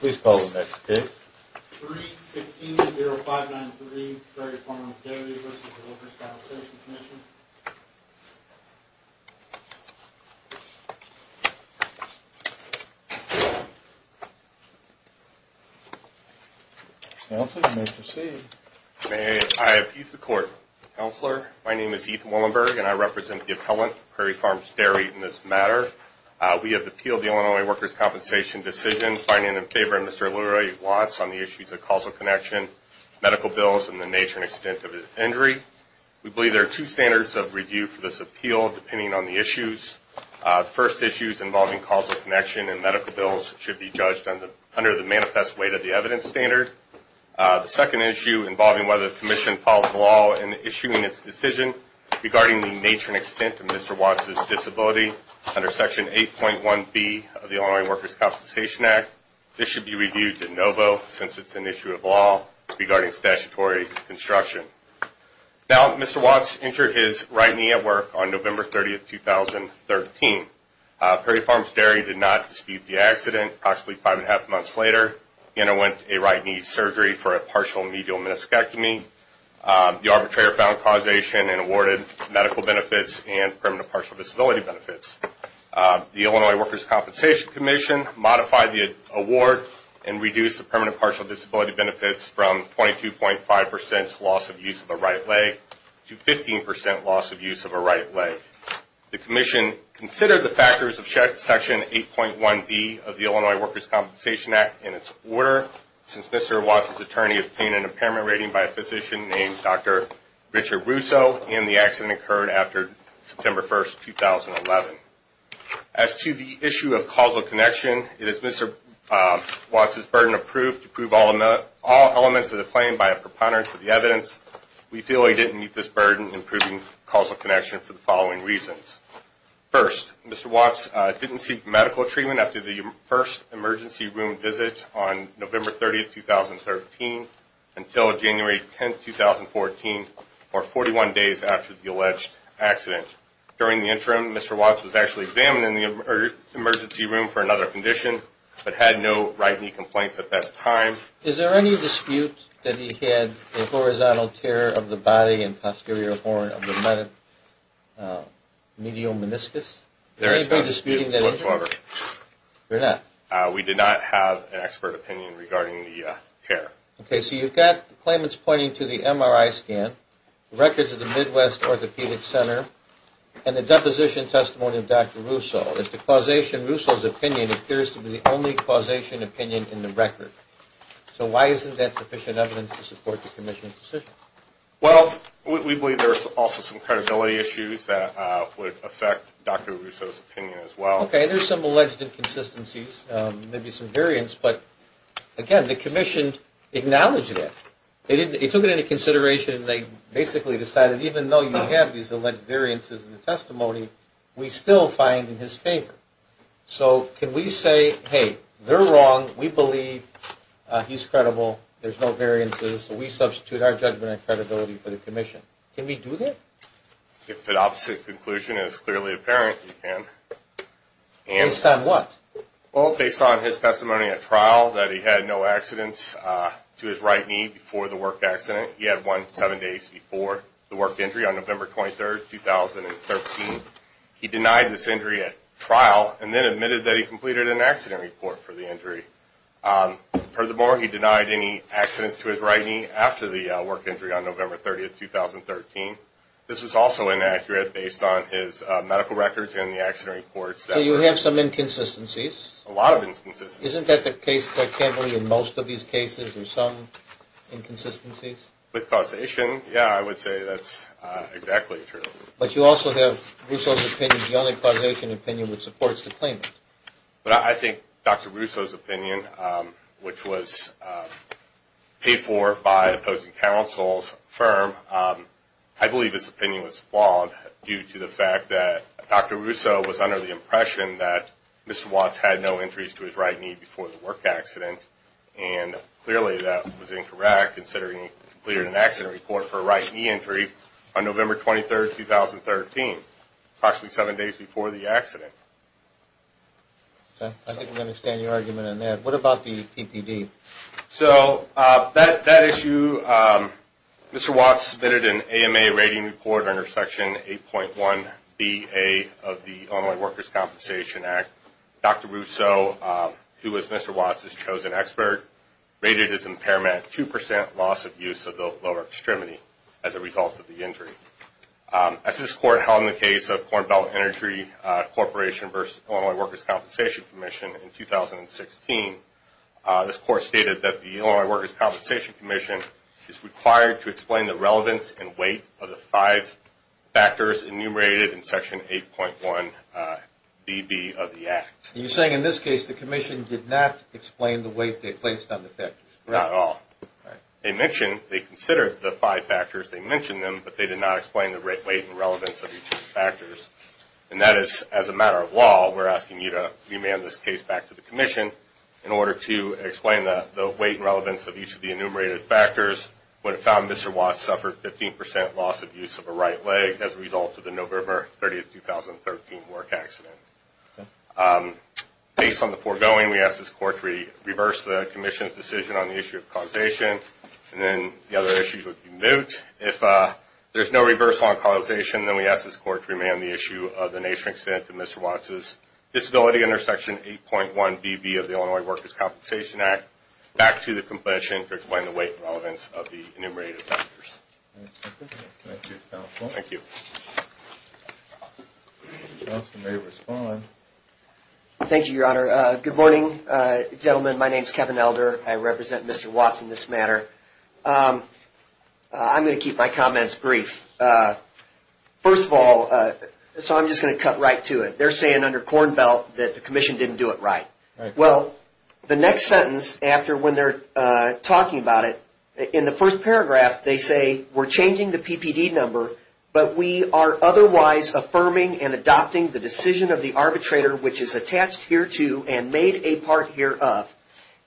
Please call the next pick. 3-16-0593, Prairie Farms Dairy v. Workers' Compensation Comm'n. Counselor, you may proceed. May I appease the Court, Counselor? My name is Ethan Willenberg and I represent the appellant, Prairie Farms Dairy, in this matter. We have appealed the Illinois Workers' Compensation decision finding in favor of Mr. Lurie Watts on the issues of causal connection, medical bills, and the nature and extent of his injury. We believe there are two standards of review for this appeal depending on the issues. The first issue is involving causal connection and medical bills should be judged under the manifest weight of the evidence standard. The second issue involving whether the Commission followed the law in issuing its decision regarding the nature and extent of Mr. Watts' disability under Section 8.1b of the Illinois Workers' Compensation Act. This should be reviewed de novo since it's an issue of law regarding statutory construction. Now, Mr. Watts injured his right knee at work on November 30, 2013. Prairie Farms Dairy did not dispute the accident approximately five and a half months later. He underwent a right knee surgery for a partial medial meniscectomy. The arbitrator found causation and awarded medical benefits and permanent partial disability benefits. The Illinois Workers' Compensation Commission modified the award and reduced the permanent partial disability benefits from 22.5% loss of use of a right leg to 15% loss of use of a right leg. The Commission considered the factors of Section 8.1b of the Illinois Workers' Compensation Act in its order. Since Mr. Watts' attorney obtained an impairment rating by a physician named Dr. Richard Russo and the accident occurred after September 1, 2011. As to the issue of causal connection, it is Mr. Watts' burden of proof to prove all elements of the claim by a preponderance of the evidence. We feel he didn't meet this burden in proving causal connection for the following reasons. First, Mr. Watts didn't seek medical treatment after the first emergency room visit on November 30, 2013 until January 10, 2014 or 41 days after the alleged accident. During the interim, Mr. Watts was actually examined in the emergency room for another condition but had no right knee complaints at that time. Is there any dispute that he had a horizontal tear of the body and posterior horn of the medial meniscus? There is no dispute whatsoever. There not? We did not have an expert opinion regarding the tear. Okay, so you've got the claimants pointing to the MRI scan, records of the Midwest Orthopedic Center and the deposition testimony of Dr. Russo. If the causation Russo's opinion appears to be the only causation opinion in the record, so why isn't that sufficient evidence to support the commission's decision? Well, we believe there's also some credibility issues that would affect Dr. Russo's opinion as well. Okay, there's some alleged inconsistencies, maybe some variance, but again, the commission acknowledged that. They took it into consideration and they basically decided even though you have these alleged variances in the testimony, we still find in his favor. So can we say, hey, they're wrong, we believe, he's credible, there's no variances, so we substitute our judgment and credibility for the commission. Can we do that? If the opposite conclusion is clearly apparent, you can. Based on what? Well, based on his testimony at trial that he had no accidents to his right knee before the work accident. He had one seven days before the work injury on November 23, 2013. He denied this injury at trial and then admitted that he completed an accident report for the injury. Furthermore, he denied any accidents to his right knee after the work injury on November 30, 2013. This was also inaccurate based on his medical records and the accident reports. So you have some inconsistencies. A lot of inconsistencies. Isn't that the case, I can't believe, in most of these cases, there's some inconsistencies? With causation, yeah, I would say that's exactly true. But you also have Russo's opinion, the only causation opinion, which supports the claimant. I think Dr. Russo's opinion, which was paid for by opposing counsel's firm, I believe his opinion was flawed due to the fact that Dr. Russo was under the impression that Mr. Watts had no injuries to his right knee before the work accident, and clearly that was incorrect considering he completed an accident report for a right knee injury on November 23, 2013, approximately seven days before the accident. I think we understand your argument on that. What about the PPD? So that issue, Mr. Watts submitted an AMA rating report under Section 8.1bA of the Illinois Workers' Compensation Act. Dr. Russo, who was Mr. Watts' chosen expert, rated his impairment 2% loss of use of the lower extremity as a result of the injury. As this court held in the case of Corn Belt Energy Corporation v. Illinois Workers' Compensation Commission in 2016, this court stated that the Illinois Workers' Compensation Commission is required to explain the relevance and weight of the five factors enumerated in Section 8.1bB of the Act. You're saying in this case the commission did not explain the weight they placed on the factors? Not at all. They mentioned, they considered the five factors, they mentioned them, but they did not explain the weight and relevance of each of the factors, and that is, as a matter of law, we're asking you to remand this case back to the commission in order to explain the weight and relevance of each of the enumerated factors. What it found, Mr. Watts suffered 15% loss of use of a right leg as a result of the November 30, 2013, work accident. Based on the foregoing, we ask this court to reverse the commission's decision on the issue of causation, and then the other issues would be moot. If there's no reversal on causation, then we ask this court to remand the issue of the nature and extent of Mr. Watts' disability under Section 8.1bB of the Illinois Workers' Compensation Act back to the commission to explain the weight and relevance of the enumerated factors. Thank you, counsel. Thank you. Counsel may respond. Thank you, Your Honor. Good morning, gentlemen. My name is Kevin Elder. I represent Mr. Watts in this matter. I'm going to keep my comments brief. First of all, so I'm just going to cut right to it. They're saying under Cornbelt that the commission didn't do it right. Well, the next sentence after when they're talking about it, in the first paragraph, they say, we're changing the PPD number, but we are otherwise affirming and adopting the decision of the arbitrator, which is attached here to and made a part here of.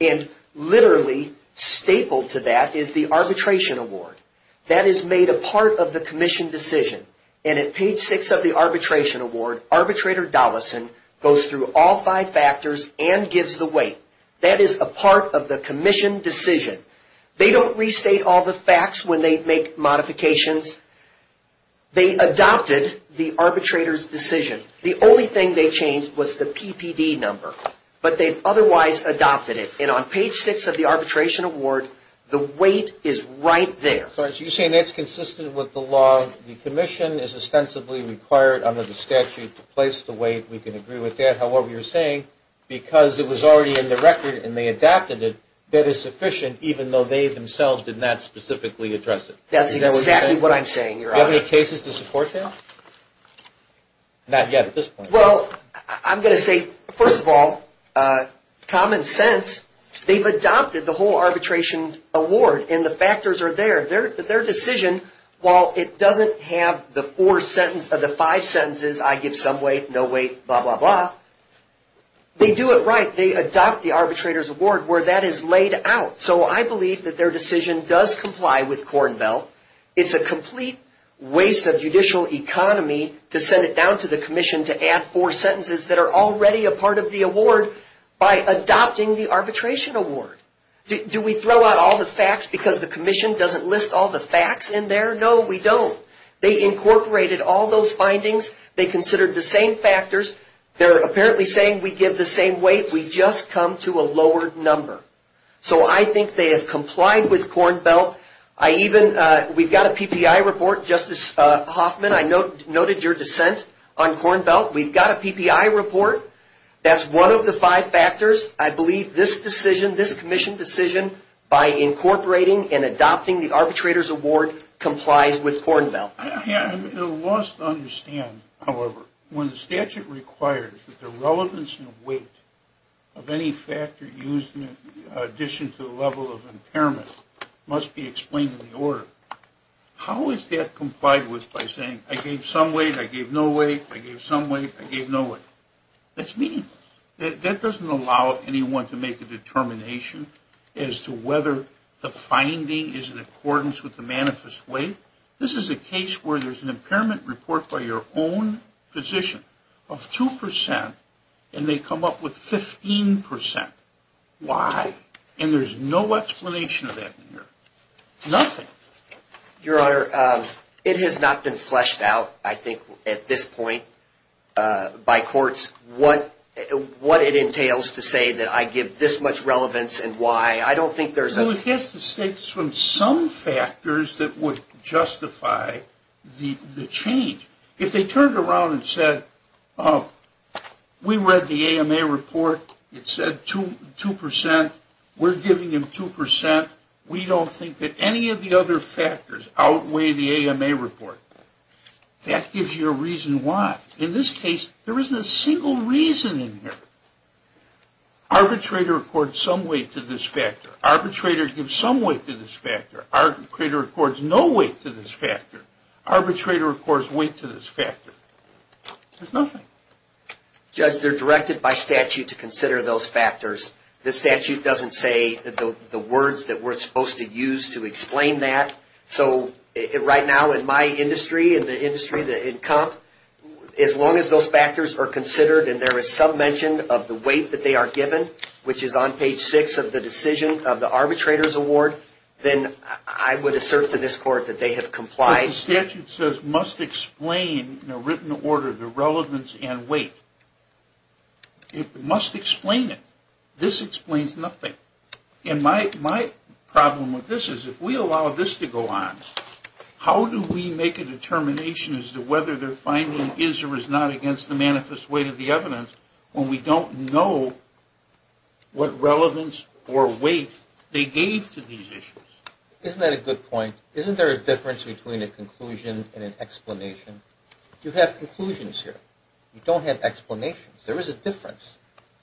And literally stapled to that is the arbitration award. That is made a part of the commission decision. And at page six of the arbitration award, arbitrator Dollison goes through all five factors and gives the weight. That is a part of the commission decision. They don't restate all the facts when they make modifications. They adopted the arbitrator's decision. The only thing they changed was the PPD number. But they've otherwise adopted it. And on page six of the arbitration award, the weight is right there. So you're saying that's consistent with the law. The commission is ostensibly required under the statute to place the weight. We can agree with that. However, you're saying because it was already in the record and they adapted it, that is sufficient, even though they themselves did not specifically address it. That's exactly what I'm saying, Your Honor. Do you have any cases to support that? Not yet at this point. Well, I'm going to say, first of all, common sense. They've adopted the whole arbitration award and the factors are there. Their decision, while it doesn't have the four sentences or the five sentences, I give some weight, no weight, blah, blah, blah. They do it right. They adopt the arbitrator's award where that is laid out. So I believe that their decision does comply with Cornbell. It's a complete waste of judicial economy to send it down to the commission to add four sentences that are already a part of the award by adopting the arbitration award. Do we throw out all the facts because the commission doesn't list all the facts in there? No, we don't. They incorporated all those findings. They considered the same factors. They're apparently saying we give the same weight. We just come to a lowered number. So I think they have complied with Cornbell. We've got a PPI report. Justice Hoffman, I noted your dissent on Cornbell. We've got a PPI report. That's one of the five factors. I believe this decision, this commission decision, by incorporating and adopting the arbitrator's award complies with Cornbell. I'm at a loss to understand, however, when the statute requires that the relevance and weight of any factor used in addition to the level of impairment must be explained in the order. How is that complied with by saying I gave some weight, I gave no weight, I gave some weight, I gave no weight? That's mean. That doesn't allow anyone to make a determination as to whether the finding is in accordance with the manifest weight. This is a case where there's an impairment report by your own physician of 2 percent, and they come up with 15 percent. Why? And there's no explanation of that in here. Nothing. Your Honor, it has not been fleshed out, I think, at this point by courts, what it entails to say that I give this much relevance and why. I don't think there's a Well, it has to state from some factors that would justify the change. If they turned around and said, oh, we read the AMA report. It said 2 percent. We're giving them 2 percent. We don't think that any of the other factors outweigh the AMA report. That gives you a reason why. In this case, there isn't a single reason in here. Arbitrator accords some weight to this factor. Arbitrator gives some weight to this factor. Arbitrator accords no weight to this factor. Arbitrator accords weight to this factor. There's nothing. Judge, they're directed by statute to consider those factors. The statute doesn't say the words that we're supposed to use to explain that. So right now in my industry, in the industry, in comp, as long as those factors are considered and there is some mention of the weight that they are given, which is on page 6 of the decision of the arbitrator's award, then I would assert to this court that they have complied. The statute says must explain in a written order the relevance and weight. It must explain it. This explains nothing. And my problem with this is if we allow this to go on, how do we make a determination as to whether their finding is or is not against the manifest weight of the evidence when we don't know what relevance or weight they gave to these issues? Isn't that a good point? Isn't there a difference between a conclusion and an explanation? You have conclusions here. You don't have explanations. There is a difference.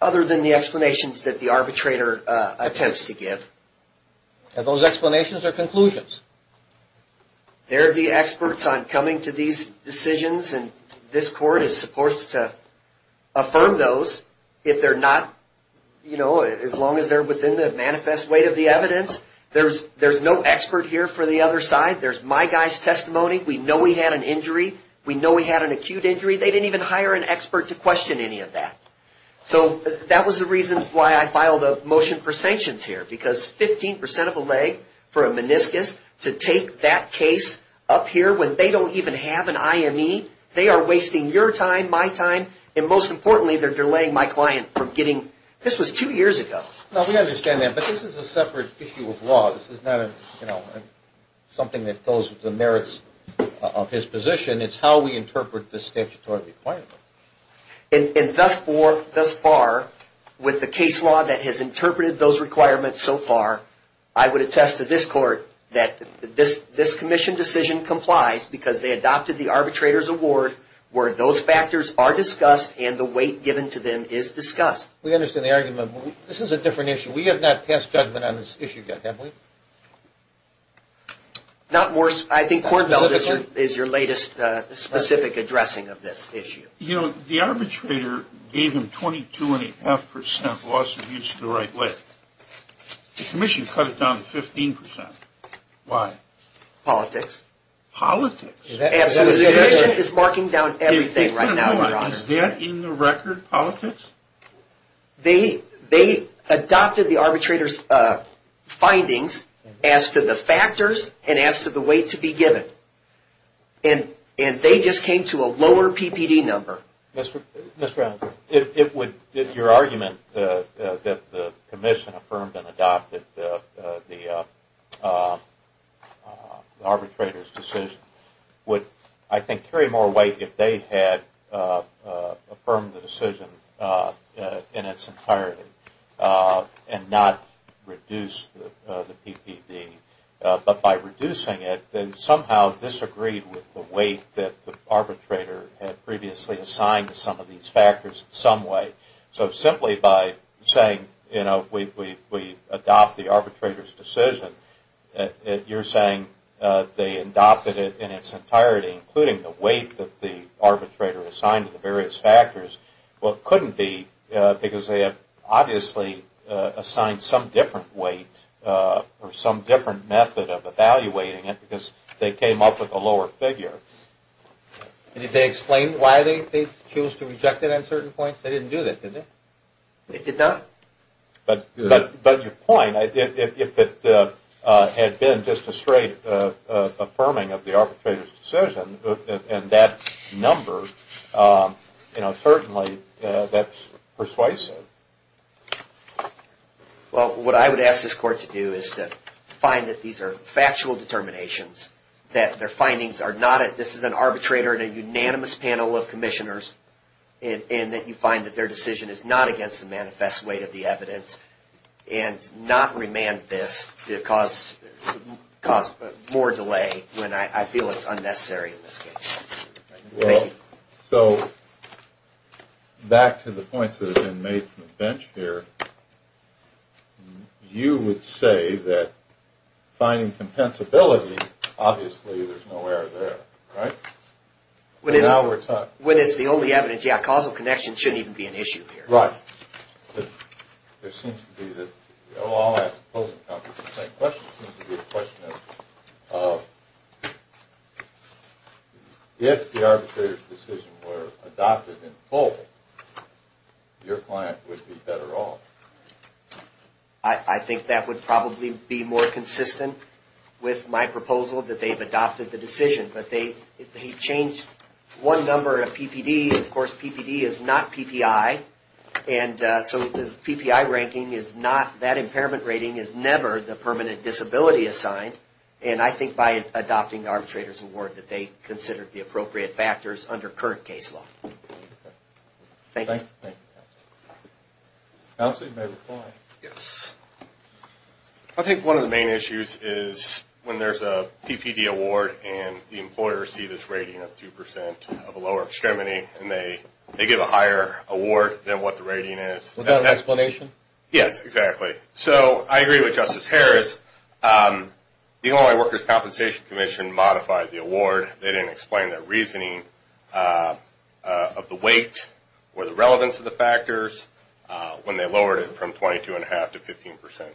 Other than the explanations that the arbitrator attempts to give. Are those explanations or conclusions? They're the experts on coming to these decisions, and this court is supposed to affirm those. If they're not, you know, as long as they're within the manifest weight of the evidence, there's no expert here for the other side. There's my guy's testimony. We know he had an injury. We know he had an acute injury. They didn't even hire an expert to question any of that. So that was the reason why I filed a motion for sanctions here, because 15 percent of a leg for a meniscus to take that case up here when they don't even have an IME. They are wasting your time, my time, and most importantly, they're delaying my client from getting. This was two years ago. No, we understand that, but this is a separate issue of law. This is not something that goes with the merits of his position. It's how we interpret the statutory requirement. And thus far, with the case law that has interpreted those requirements so far, I would attest to this court that this commission decision complies because they adopted the arbitrator's award where those factors are discussed and the weight given to them is discussed. We understand the argument. This is a different issue. We have not passed judgment on this issue yet, have we? Not worse. I think Kornfeld is your latest specific addressing of this issue. You know, the arbitrator gave him 22.5 percent loss of use to the right leg. The commission cut it down to 15 percent. Why? Politics. Absolutely. The commission is marking down everything right now. Wait a minute. Is that in the record, politics? They adopted the arbitrator's findings as to the factors and as to the weight to be given. And they just came to a lower PPD number. Mr. Adams, your argument that the commission affirmed and adopted the arbitrator's decision would, I think, affirm the decision in its entirety and not reduce the PPD. But by reducing it, they somehow disagreed with the weight that the arbitrator had previously assigned to some of these factors in some way. So simply by saying, you know, we adopt the arbitrator's decision, you're saying they adopted it in its entirety, including the weight that the arbitrator assigned to the various factors. Well, it couldn't be because they had obviously assigned some different weight or some different method of evaluating it because they came up with a lower figure. Did they explain why they chose to reject it at certain points? They didn't do that, did they? They did not. But your point, I mean, if it had been just a straight affirming of the arbitrator's decision and that number, you know, certainly that's persuasive. Well, what I would ask this Court to do is to find that these are factual determinations, that their findings are not at, this is an arbitrator and a unanimous panel of commissioners, and that you find that their decision is not against the manifest weight of the evidence and not remand this to cause more delay when I feel it's unnecessary in this case. So back to the points that have been made from the bench here, you would say that finding compensability, obviously there's no error there, right? When it's the only evidence, yeah, causal connection shouldn't even be an issue here. Right. There seems to be this, I'll ask the closing counsel the same question, it seems to be a question of if the arbitrator's decision were adopted in full, your client would be better off. I think that would probably be more consistent with my proposal that they've adopted the decision, but they've changed one number of PPD. PPD, of course, PPD is not PPI, and so the PPI ranking is not, that impairment rating is never the permanent disability assigned, and I think by adopting the arbitrator's award that they considered the appropriate factors under current case law. Thank you. Counsel, you may reply. Yes. I think one of the main issues is when there's a PPD award and the employers see this rating of 2% of a lower extremity, and they give a higher award than what the rating is. Without an explanation? Yes, exactly. So I agree with Justice Harris. The Illinois Workers' Compensation Commission modified the award. They didn't explain their reasoning of the weight or the relevance of the factors when they lowered it from 22.5% to 15%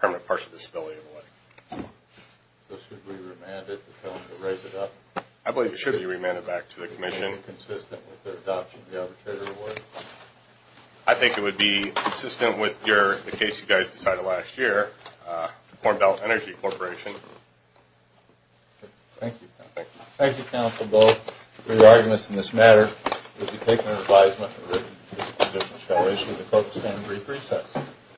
permanent partial disability award. So should we remand it to tell them to raise it up? I believe it should be remanded back to the commission. Would it be consistent with their adoption of the arbitrator's award? I think it would be consistent with the case you guys decided last year, the Corn Belt Energy Corporation. Thank you. Thank you. Thank you, Counsel Bowe. For your arguments in this matter, it would be taken under advisement that the Commission shall issue the focus and brief recess.